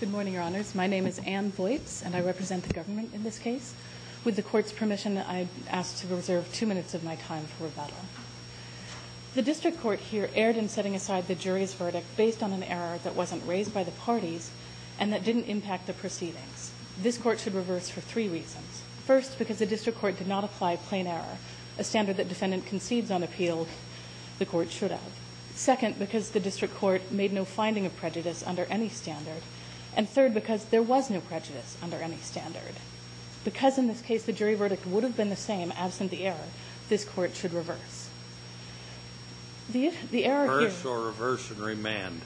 Good morning, Your Honors. My name is Anne Voits, and I represent the government in this case. With the Court's permission, I ask to reserve two minutes of my time for rebuttal. The District Court here erred in setting aside the jury's verdict based on an error that wasn't raised by the parties and that didn't impact the proceedings. This Court should reverse for three reasons. First, because the District Court did not apply plain error, a standard that defendant concedes on appeal the Court should have. Second, because the District Court made no prejudice under any standard. And third, because there was no prejudice under any standard. Because in this case the jury verdict would have been the same absent the error, this Court should reverse. Reverse or reverse and remand?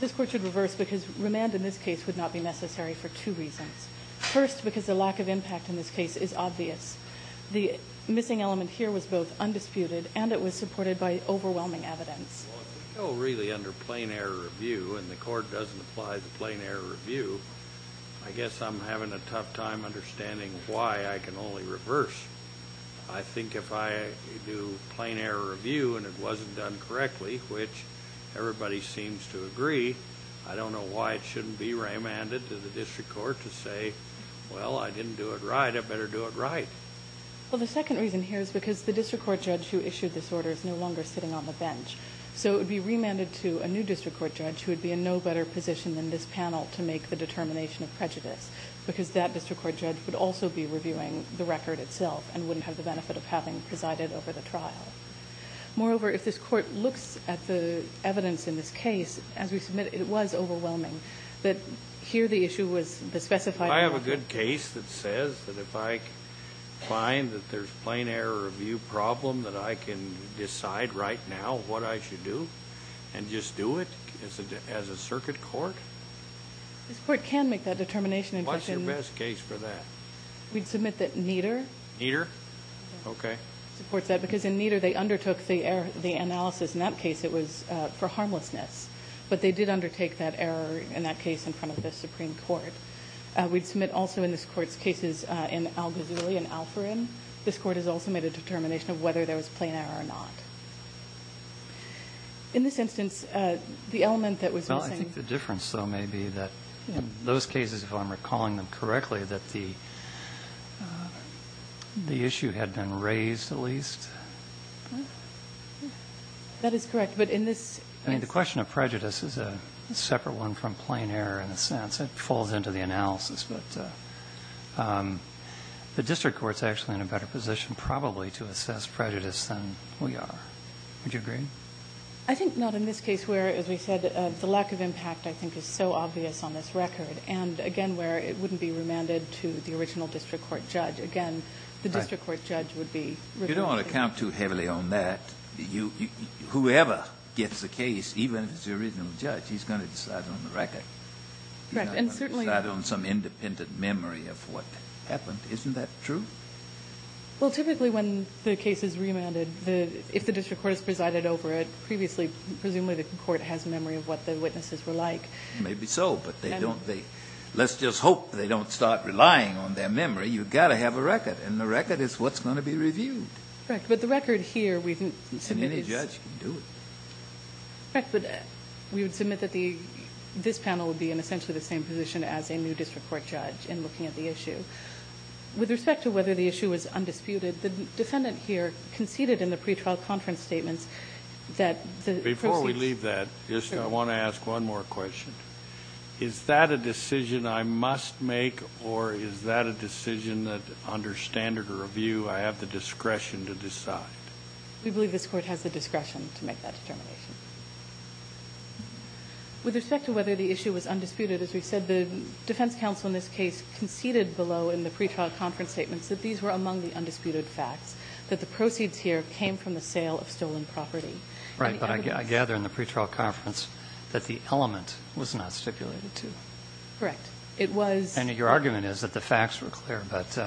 This Court should reverse because remand in this case would not be necessary for two reasons. First, because the lack of impact in this case is obvious. The missing element here was both undisputed and it was supported by overwhelming evidence. Well, if we go really under plain error review and the Court doesn't apply the plain error review, I guess I'm having a tough time understanding why I can only reverse. I think if I do plain error review and it wasn't done correctly, which everybody seems to agree, I don't know why it shouldn't be remanded to the District Court to say, well, I didn't do it right, I better do it right. Well, the second reason here is because the District Court judge who would be in no better position than this panel to make the determination of prejudice, because that District Court judge would also be reviewing the record itself and wouldn't have the benefit of having presided over the trial. Moreover, if this Court looks at the evidence in this case, as we submitted, it was overwhelming that here the issue was the specified problem. Do I have a good case that says that if I find that there's plain error review problem that I can decide right now what I should do and just do it as a circuit court? This Court can make that determination. What's your best case for that? We'd submit that Nieder. Nieder? Okay. Because in Nieder they undertook the analysis, in that case it was for harmlessness, but they did undertake that error in that case in front of the Supreme Court. We'd submit also in this Court's cases in Al-Ghazouli and Alfarin. This Court has also made a determination of whether there was plain error or not. In this instance, the element that was missing... Well, I think the difference, though, may be that in those cases, if I'm recalling them correctly, that the issue had been raised, at least. That is correct, but in this... I mean, the question of prejudice is a separate one from plain error in a sense. It falls into the analysis, but the District Court's actually in a better position probably to assess prejudice than we are. Would you agree? I think not in this case where, as we said, the lack of impact I think is so obvious on this record, and again where it wouldn't be remanded to the original District Court judge. Again, the District Court judge would be... You don't want to count too heavily on that. Whoever gets the case, even if it's the original judge, he's going to decide on the record. He's not going to decide on some independent memory of what happened. Isn't that true? Well, typically when the case is remanded, if the District Court has presided over it previously, presumably the court has memory of what the witnesses were like. Maybe so, but they don't... Let's just hope they don't start relying on their memory. You've got to have a record, and the record is what's going to be reviewed. Correct, but the record here we've submitted... And any judge can do it. Correct, but we would submit that this panel would be in essentially the same position as a new District Court judge in looking at the issue. With respect to whether the issue was undisputed, the defendant here conceded in the pretrial conference statements that the... Before we leave that, I want to ask one more question. Is that a decision I must make, or is that a decision that under standard review I have the discretion to decide? We believe this Court has the discretion to make that determination. With respect to whether the issue was undisputed, as we conceded below in the pretrial conference statements that these were among the undisputed facts, that the proceeds here came from the sale of stolen property. Right, but I gather in the pretrial conference that the element was not stipulated to. Correct. It was... And your argument is that the facts were clear, but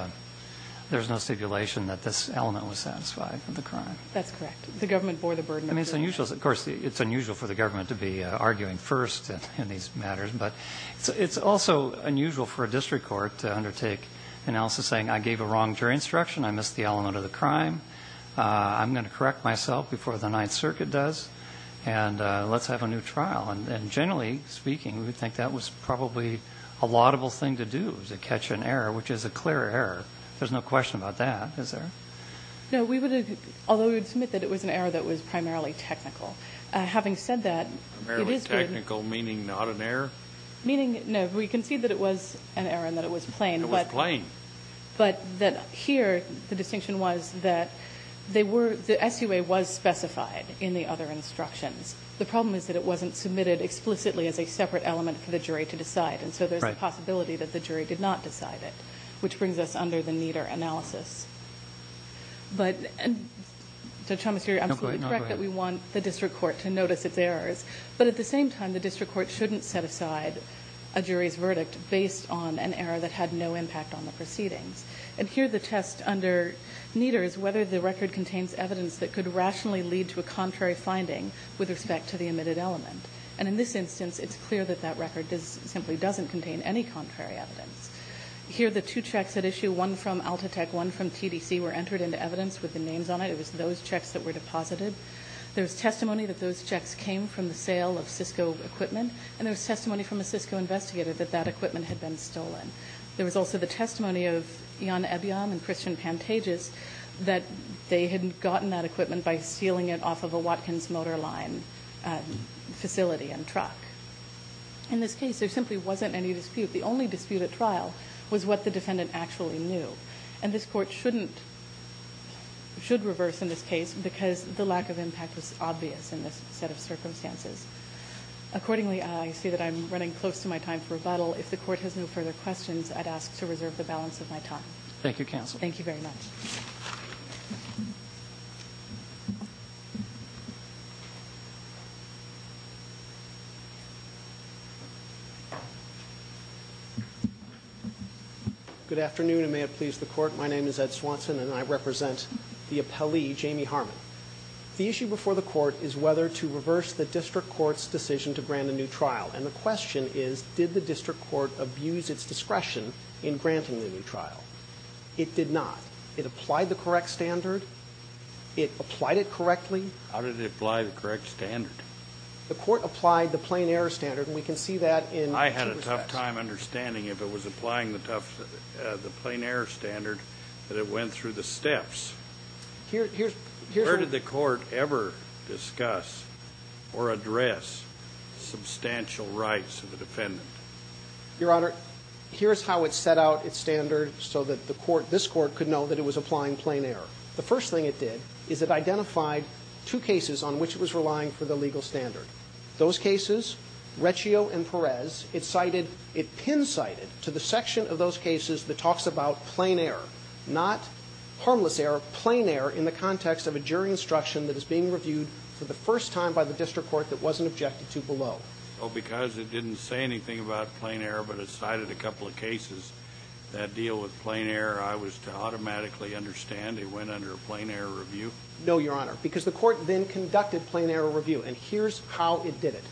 there's no stipulation that this element was satisfied for the crime. That's correct. The government bore the burden of... I mean, it's unusual. Of course, it's unusual for the government to be arguing first in these matters, but it's also unusual for a district court to undertake analysis saying, I gave a wrong jury instruction, I missed the element of the crime, I'm going to correct myself before the Ninth Circuit does, and let's have a new trial. And generally speaking, we think that was probably a laudable thing to do, to catch an error, which is a clear error. There's no question about that, is there? No, we would... Although we would submit that it was an error that was primarily technical. Having said that, it is... Technical meaning not an error? Meaning... No, we concede that it was an error and that it was plain. It was plain. But that here, the distinction was that they were... The SUA was specified in the other instructions. The problem is that it wasn't submitted explicitly as a separate element for the jury to decide, and so there's a possibility that the jury did not decide it, which brings us under the Nieder analysis. But... Judge Chalmers, you're absolutely correct that we want the district court to notice its errors, but at the same time, the district court shouldn't set aside a jury's verdict based on an error that had no impact on the proceedings. And here, the test under Nieder is whether the record contains evidence that could rationally lead to a contrary finding with respect to the omitted element. And in this instance, it's clear that that record simply doesn't contain any contrary evidence. Here, the two checks at issue, one from ALTATEC, one from TDC, were entered into evidence with the names on it. It was those checks that were deposited. There was testimony that those checks came from the sale of Cisco equipment, and there was testimony from a Cisco investigator that that equipment had been stolen. There was also the testimony of Jan Ebyam and Christian Pantages that they had gotten that equipment by stealing it off of a Watkins motor line facility and truck. In this case, there simply wasn't any dispute. The only dispute at trial was what the defendant actually knew. And this court shouldn't... The lack of impact was obvious in this set of circumstances. Accordingly, I see that I'm running close to my time for rebuttal. If the court has no further questions, I'd ask to reserve the balance of my time. Thank you, counsel. Thank you very much. Good afternoon, and may it please the court. My name is Ed Swanson, and I represent the appellee, Jamie Harmon. The issue before the court is whether to reverse the district court's decision to grant a new trial. And the question is, did the district court abuse its discretion in granting the new trial? It did not. It applied the correct standard. It applied it correctly. How did it apply the correct standard? The court applied the plain error standard, and we can see that in... I had a tough time understanding if it was applying the plain error standard that it went through the steps. Here's... Where did the court ever discuss or address substantial rights of the defendant? Your Honor, here's how it set out its standard so that the court, this court, could know that it was applying plain error. The first thing it did is it identified two cases on which it was relying for the legal standard. Those cases, Reccio and Perez, it cited, it pin-cited to the section of those cases as plain error, not harmless error, plain error in the context of a jury instruction that is being reviewed for the first time by the district court that wasn't objected to below. So because it didn't say anything about plain error but it cited a couple of cases that deal with plain error, I was to automatically understand it went under a plain error review? No, Your Honor, because the court then conducted plain error review, and here's how it did it.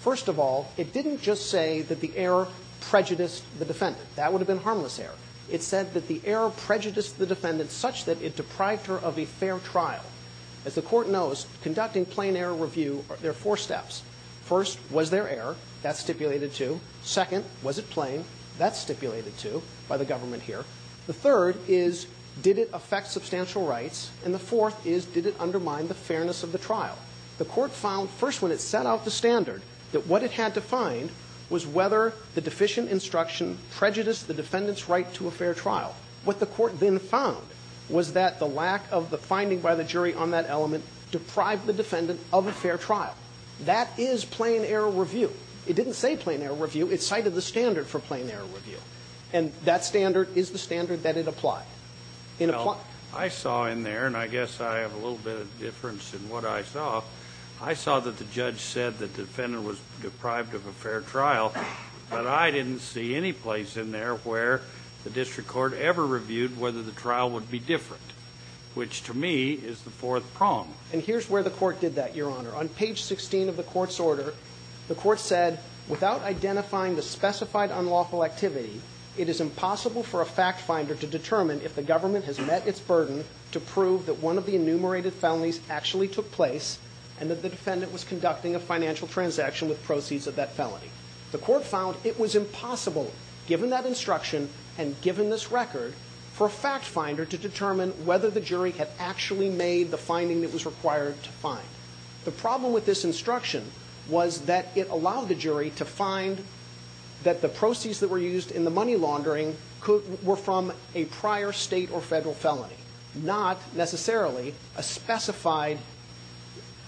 First of all, it didn't just say that the error prejudiced the defendant. That would have been that the error prejudiced the defendant such that it deprived her of a fair trial. As the court knows, conducting plain error review, there are four steps. First, was there error? That's stipulated, too. Second, was it plain? That's stipulated, too, by the government here. The third is, did it affect substantial rights? And the fourth is, did it undermine the fairness of the trial? The court found, first, when it set out the standard, that what it had to find was whether the deficient instruction prejudiced the defendant's right to a fair trial. What the court then found was that the lack of the finding by the jury on that element deprived the defendant of a fair trial. That is plain error review. It didn't say plain error review. It cited the standard for plain error review. And that standard is the standard that it applied. In applying it. Well, I saw in there, and I guess I have a little bit of difference in what I saw, I saw that the judge said the defendant was deprived of a fair trial, but I didn't see any place in there where the district court ever reviewed whether the trial would be different, which to me is the fourth problem. And here's where the court did that, Your Honor. On page 16 of the court's order, the court said, without identifying the specified unlawful activity, it is impossible for a fact finder to determine if the government has met its burden to prove that one of the enumerated felonies actually took place and that the defendant was conducting a financial transaction with proceeds of that felony. The court found it was impossible, given that instruction and given this record, for a fact finder to determine whether the jury had actually made the finding that was required to find. The problem with this instruction was that it allowed the jury to find that the proceeds that were used in the money laundering were from a prior state or federal felony, not necessarily a specified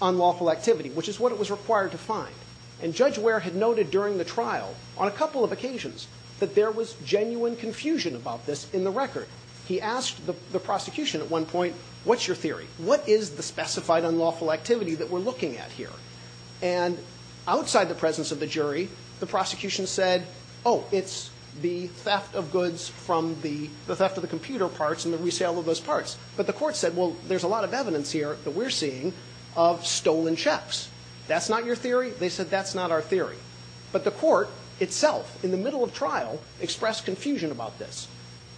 unlawful activity, which is what it was required to find. And Judge Ware had noted during the trial, on a couple of occasions, that there was genuine confusion about this in the record. He asked the prosecution at one point, what's your theory? What is the specified unlawful activity that we're looking at here? And outside the presence of the jury, the prosecution said, oh, it's the theft of goods from the, the theft of the computer parts and the resale of those parts. But the court said, well, there's a lot of evidence here that we're seeing of that. And he said, that's not our theory. But the court itself, in the middle of trial, expressed confusion about this.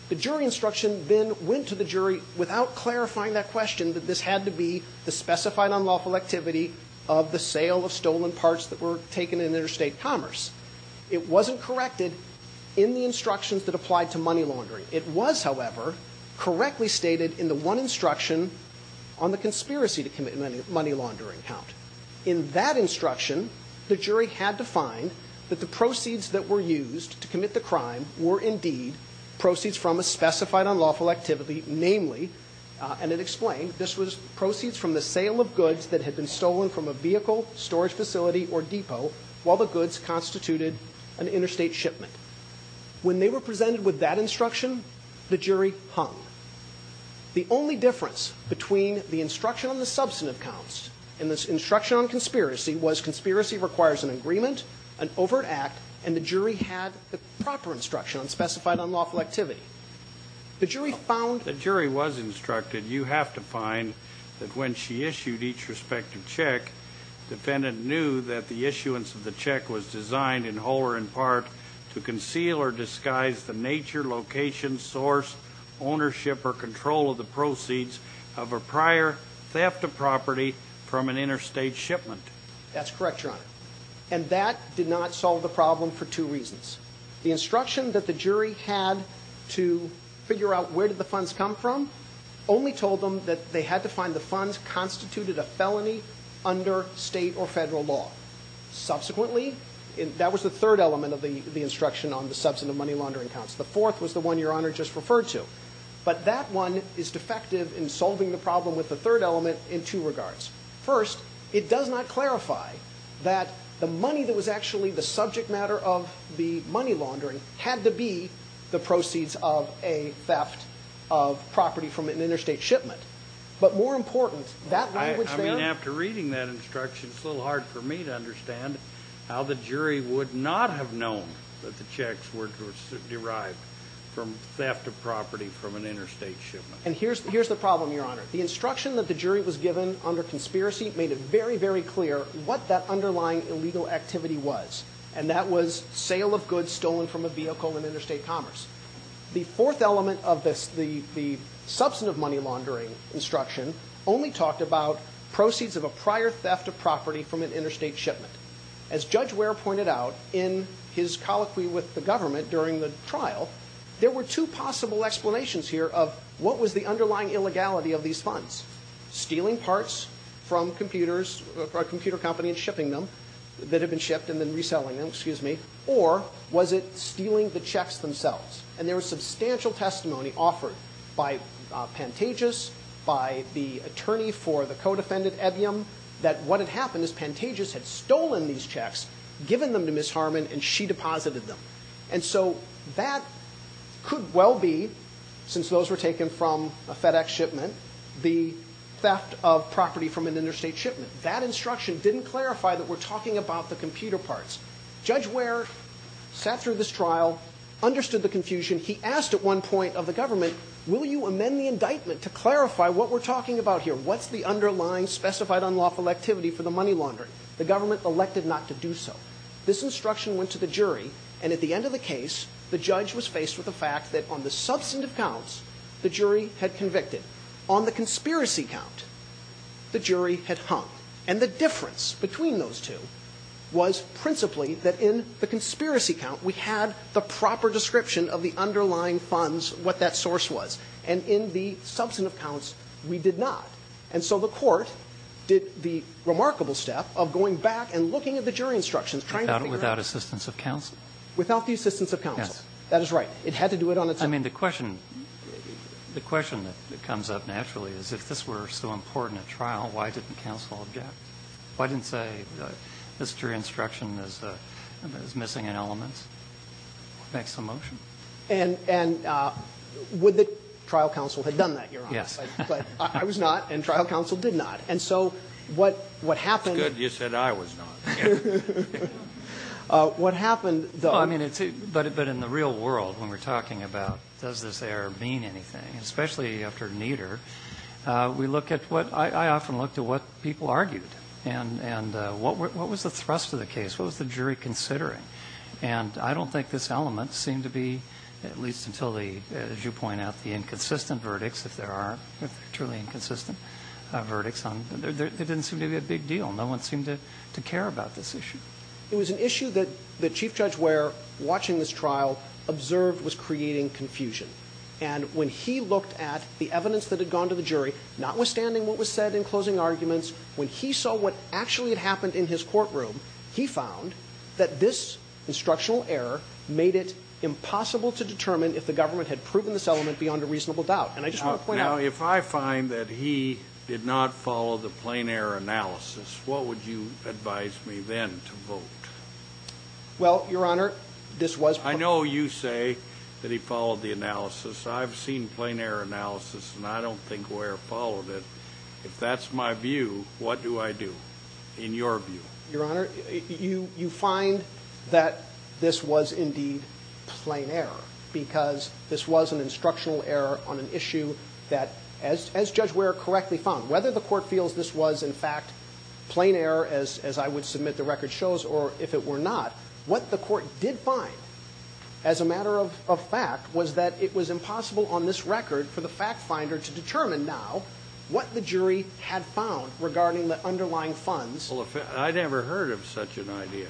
The jury instruction then went to the jury without clarifying that question, that this had to be the specified unlawful activity of the sale of stolen parts that were taken in interstate commerce. It wasn't corrected in the instructions that applied to money laundering. It was, however, correctly stated in the one instruction on the conspiracy to commit money laundering count. In that instruction, the jury had to find that the proceeds that were used to commit the crime were indeed proceeds from a specified unlawful activity, namely, and it explained, this was proceeds from the sale of goods that had been stolen from a vehicle, storage facility, or depot, while the goods constituted an interstate shipment. When they were presented with that instruction, the jury hung. The only difference between the instruction on the substantive counts and the instruction on conspiracy was, conspiracy requires an agreement, an overt act, and the jury had the proper instruction on specified unlawful activity. The jury found the jury was instructed, you have to find that when she issued each respective check, defendant knew that the issuance of the check was designed in whole or in part to conceal or disguise the nature, location, source, ownership, or control of the proceeds of a prior theft of property from an interstate shipment. That's correct, Your Honor. And that did not solve the problem for two reasons. The instruction that the jury had to figure out where did the funds come from only told them that they had to find the funds constituted a felony under state or federal law. Subsequently, that was the third element of the instruction on the substantive money laundering counts. The fourth was the one Your Honor just referred to. But that one is defective in solving the problem with the third element in two regards. First, it does not clarify that the money that was actually the subject matter of the money laundering had to be the proceeds of a theft of property from an interstate shipment. But more important, that language there... I mean, after reading that instruction, it's a little hard for me to understand how the jury would not have known that the checks were derived from theft of property from an interstate shipment. And here's the problem, Your Honor. The instruction that the jury was given under conspiracy made it very, very clear what that underlying illegal activity was. And that was sale of goods stolen from a vehicle in interstate commerce. The fourth element of the substantive money laundering instruction only talked about proceeds of a prior theft of property from an interstate shipment. As Judge Ware pointed out in his colloquy with the government during the trial, there were two possible explanations here of what was the underlying illegality of these funds. Stealing parts from computers, a computer company, and shipping them that had been shipped, and then reselling them, excuse me. Or was it stealing the checks themselves? And there was substantial testimony offered by Pantages, by the attorney for the co-defendant Ebbium, that what had happened is Pantages had stolen these checks, given them to Ms. Harmon, and she deposited them. And so that could well be, since those were taken from a FedEx shipment, the theft of property from an interstate shipment. That instruction didn't clarify that we're talking about the computer parts. Judge Ware sat through this trial, understood the confusion. He asked at one point of the government, will you amend the indictment to clarify what we're talking about here? What's the underlying specified unlawful activity for the money laundering? The government elected not to do so. This instruction went to the jury, and at the end of the case, the judge was faced with the fact that on the substantive counts, the jury had convicted. On the conspiracy count, the jury had hung. And the difference between those two was principally that in the conspiracy count, we had the proper description of the underlying funds, what that source was. And in the substantive counts, we did not. And so the Court did the remarkable step of going back and looking at the jury instructions, trying to figure out. Without assistance of counsel. Without the assistance of counsel. Yes. That is right. It had to do it on its own. I mean, the question that comes up naturally is if this were so important at trial, why didn't counsel object? Why didn't say this jury instruction is missing in elements? Make some motion? And would the trial counsel have done that, Your Honor? Yes. But I was not, and trial counsel did not. And so what happened. It's good you said I was not. What happened, though. I mean, but in the real world, when we're talking about does this error mean anything, especially after Nieder, we look at what, I often look to what people argued. And what was the thrust of the case? What was the jury considering? And I don't think this element seemed to be, at least until the, as you point out, the inconsistent verdicts, if there are truly inconsistent verdicts, there didn't seem to be a big deal. No one seemed to care about this issue. It was an issue that Chief Judge Ware, watching this trial, observed was creating confusion. And when he looked at the evidence that had gone to the jury, notwithstanding what was said in closing arguments, when he saw what actually had happened in his courtroom, he found that this instructional error made it impossible to determine if the government had proven this element beyond a reasonable doubt. And I just want to point out. Now, if I find that he did not follow the plain error analysis, what would you advise me then to vote? Well, Your Honor, this was plain error. I know you say that he followed the analysis. I've seen plain error analysis, and I don't think Ware followed it. If that's my view, what do I do in your view? Your Honor, you find that this was indeed plain error, because this was an instructional error on an issue that, as Judge Ware correctly found, whether the court feels this was, in fact, plain error, as I would submit the record shows, or if it were not, what the court did find, as a matter of fact, was that it was impossible on this record for the fact finder to determine now what the jury had found regarding the underlying funds. Well, I'd never heard of such an idea.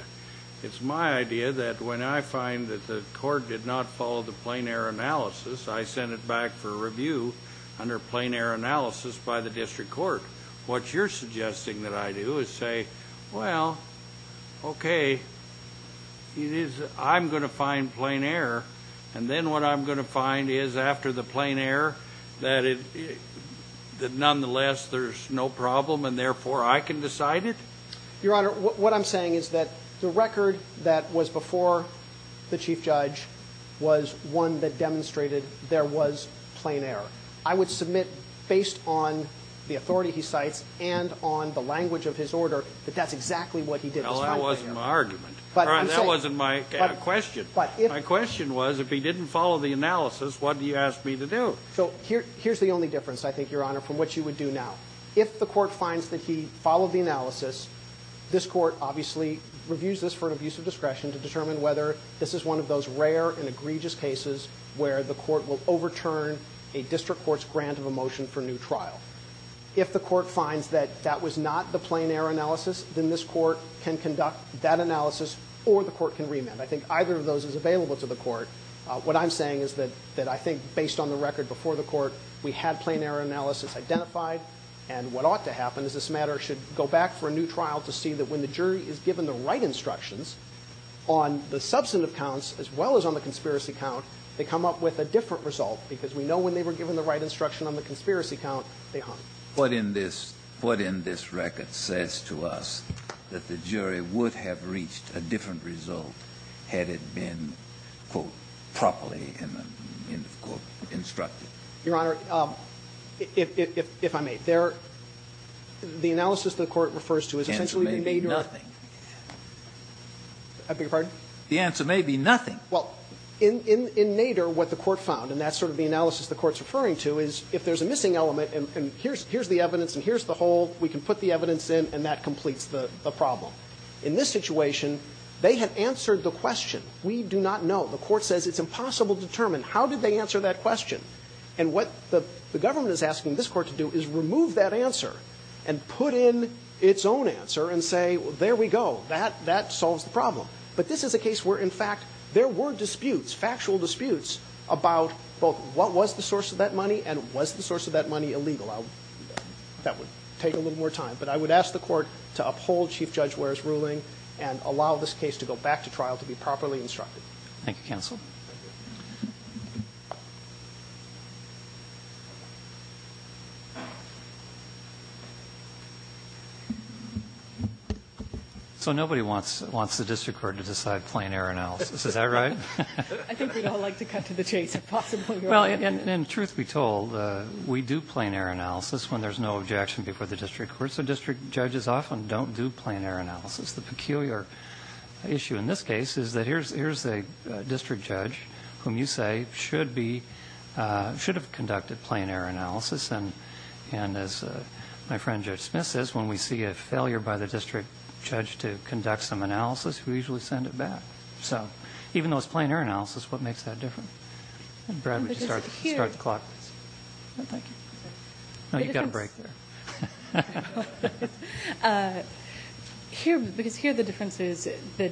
It's my idea that when I find that the court did not follow the plain error analysis, I send it back for review under plain error analysis by the district court. What you're suggesting that I do is say, well, okay, I'm going to find plain error, and then what I'm going to find is after the plain error, that nonetheless there's no problem, and therefore I can Your Honor, what I'm saying is that the record that was before the Chief Judge was one that demonstrated there was plain error. I would submit, based on the authority he cites and on the language of his order, that that's exactly what he did this time. Well, that wasn't my argument. But I'm saying That wasn't my question. But if My question was, if he didn't follow the analysis, what do you ask me to do? So here's the only difference, I think, Your Honor, from what you would do now. If the court finds that he followed the analysis, this court obviously reviews this for an abuse of discretion to determine whether this is one of those rare and egregious cases where the court will overturn a district court's grant of a motion for new trial. If the court finds that that was not the plain error analysis, then this court can conduct that analysis, or the court can remand. I think either of those is available to the court. What I'm saying is that I think, based on the record before the court, we had plain error analysis identified, and what ought to happen is this matter should go back for a new trial to see that when the jury is given the right instructions on the substantive counts as well as on the conspiracy count, they come up with a different result, because we know when they were given the right instruction on the conspiracy count, they aren't. What in this record says to us that the jury would have reached a different result had it been, quote, properly, end of quote, instructed? Gershengorn Your Honor, if I may. The analysis the court refers to is essentially the Nader. Scalia The answer may be nothing. Gershengorn I beg your pardon? Scalia The answer may be nothing. Gershengorn Well, in Nader, what the court found, and that's sort of the analysis the court's referring to, is if there's a missing element and here's the evidence and here's the whole, we can put the evidence in and that completes the problem. In this situation, they had answered the question. We do not know. The court says it's impossible to determine. How did they answer that question? And what the government is asking this Court to do is remove that answer and put in its own answer and say, well, there we go. That solves the problem. But this is a case where, in fact, there were disputes, factual disputes, about both what was the source of that money and was the source of that money illegal. That would take a little more time. But I would ask the Court to uphold Chief Judge Ware's ruling and allow this case to go back to trial to be properly instructed. Roberts Thank you, counsel. So nobody wants the district court to decide plain error analysis. Is that right? Kagan I think we'd all like to cut to the chase, if possible, Your Honor. Roberts Well, and truth be told, we do plain error analysis when there's no objection before the district court. So district judges often don't do plain error analysis. The peculiar issue in this case is that here's a district judge whom you say should have conducted plain error analysis. And as my friend Judge Smith says, when we see a failure by the district judge to conduct some analysis, we usually send it back. So even though it's plain error analysis, what makes that different? Brad, would you start the clock? Roberts No, thank you. Roberts No, you've got a break there. Kagan Because here the difference is that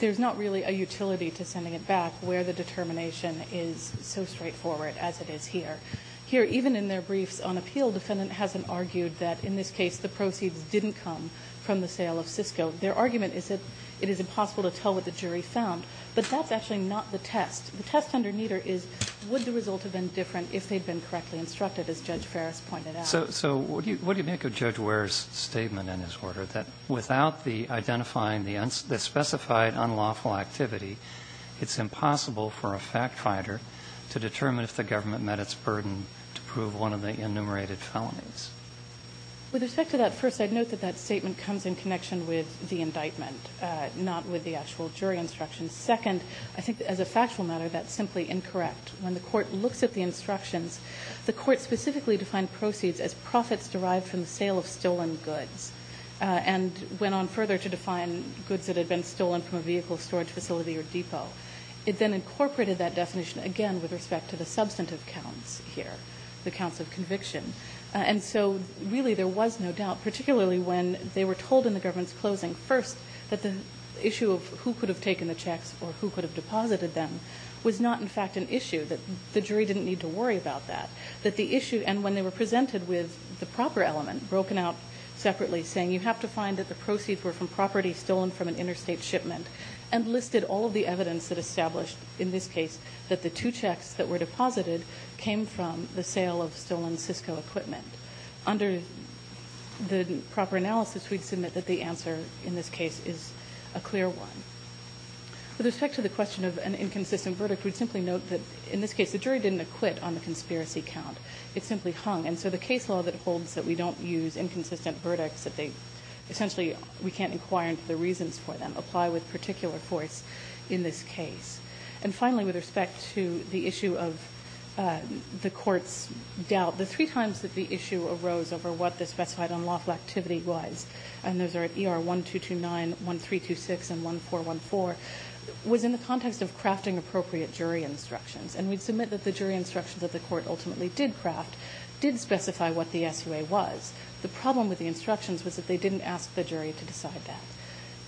there's not really a utility to sending it back where the determination is so straightforward as it is here. Here, even in their briefs on appeal, defendant hasn't argued that in this case the proceeds didn't come from the sale of Cisco. Their argument is that it is impossible to tell what the jury found. But that's actually not the test. The test under Nieder is would the result have been different if they'd been correctly instructed, as Judge Ferris pointed out? Roberts So what do you make of Judge Ware's statement in his order, that without the identifying the specified unlawful activity, it's impossible for a fact-finder to determine if the government met its burden to prove one of the enumerated felonies? Kagan With respect to that, first, I'd note that that statement comes in connection with the indictment, not with the actual jury instruction. Second, I think as a factual matter, that's simply incorrect. When the Court looks at the instructions, the Court specifically defined proceeds as profits derived from the sale of stolen goods and went on further to define goods that had been stolen from a vehicle storage facility or depot. It then incorporated that definition again with respect to the substantive counts here, the counts of conviction. And so really there was no doubt, particularly when they were told in the government's closing, first, that the issue of who could have taken the checks or who could have deposited them was not, in fact, an issue, that the jury didn't need to worry about that. That the issue, and when they were presented with the proper element, broken out separately, saying you have to find that the proceeds were from property stolen from an interstate shipment, and listed all of the evidence that established in this case that the two checks that were deposited came from the sale of stolen Cisco equipment. Under the proper analysis, we'd submit that the answer in this case is a clear one. With respect to the question of an inconsistent verdict, we'd simply note that in this case the jury didn't acquit on the conspiracy count. It simply hung. And so the case law that holds that we don't use inconsistent verdicts, that they essentially we can't inquire into the reasons for them, apply with particular force in this case. And finally, with respect to the issue of the Court's doubt, the three times that the issue arose over what the specified unlawful activity was, and those are at ER 1229, 1326, and 1414, was in the context of crafting appropriate jury instructions. And we'd submit that the jury instructions that the Court ultimately did craft did specify what the SUA was. The problem with the instructions was that they didn't ask the jury to decide that.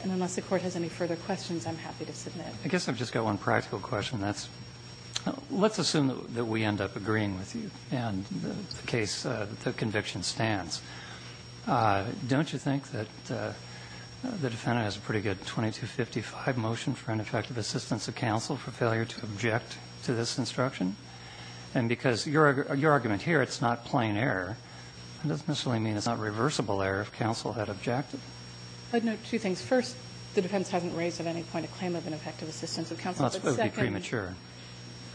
And unless the Court has any further questions, I'm happy to submit. I guess I've just got one practical question, and that's let's assume that we end up agreeing with you. And the case, the conviction stands. Don't you think that the defendant has a pretty good 2255 motion for ineffective assistance of counsel for failure to object to this instruction? And because your argument here, it's not plain error, that doesn't necessarily mean it's not reversible error if counsel had objected. I'd note two things. First, the defense hasn't raised at any point a claim of ineffective assistance of counsel. That would be premature.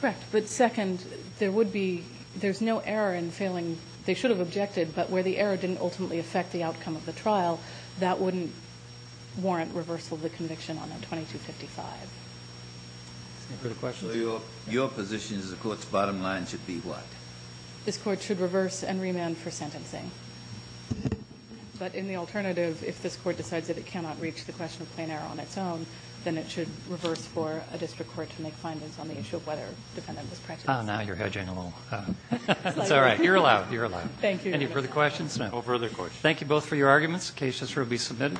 Correct. But second, there would be, there's no error in failing. They should have objected, but where the error didn't ultimately affect the outcome of the trial, that wouldn't warrant reversal of the conviction on that 2255. Any further questions? Your position is the Court's bottom line should be what? This Court should reverse and remand for sentencing. But in the alternative, if this Court decides that it cannot reach the question of plain error on its own, then it should reverse for a district court to make Oh, now you're hedging a little. It's all right. You're allowed. You're allowed. Thank you. Any further questions? No further questions. Thank you both for your arguments. Cases will be submitted.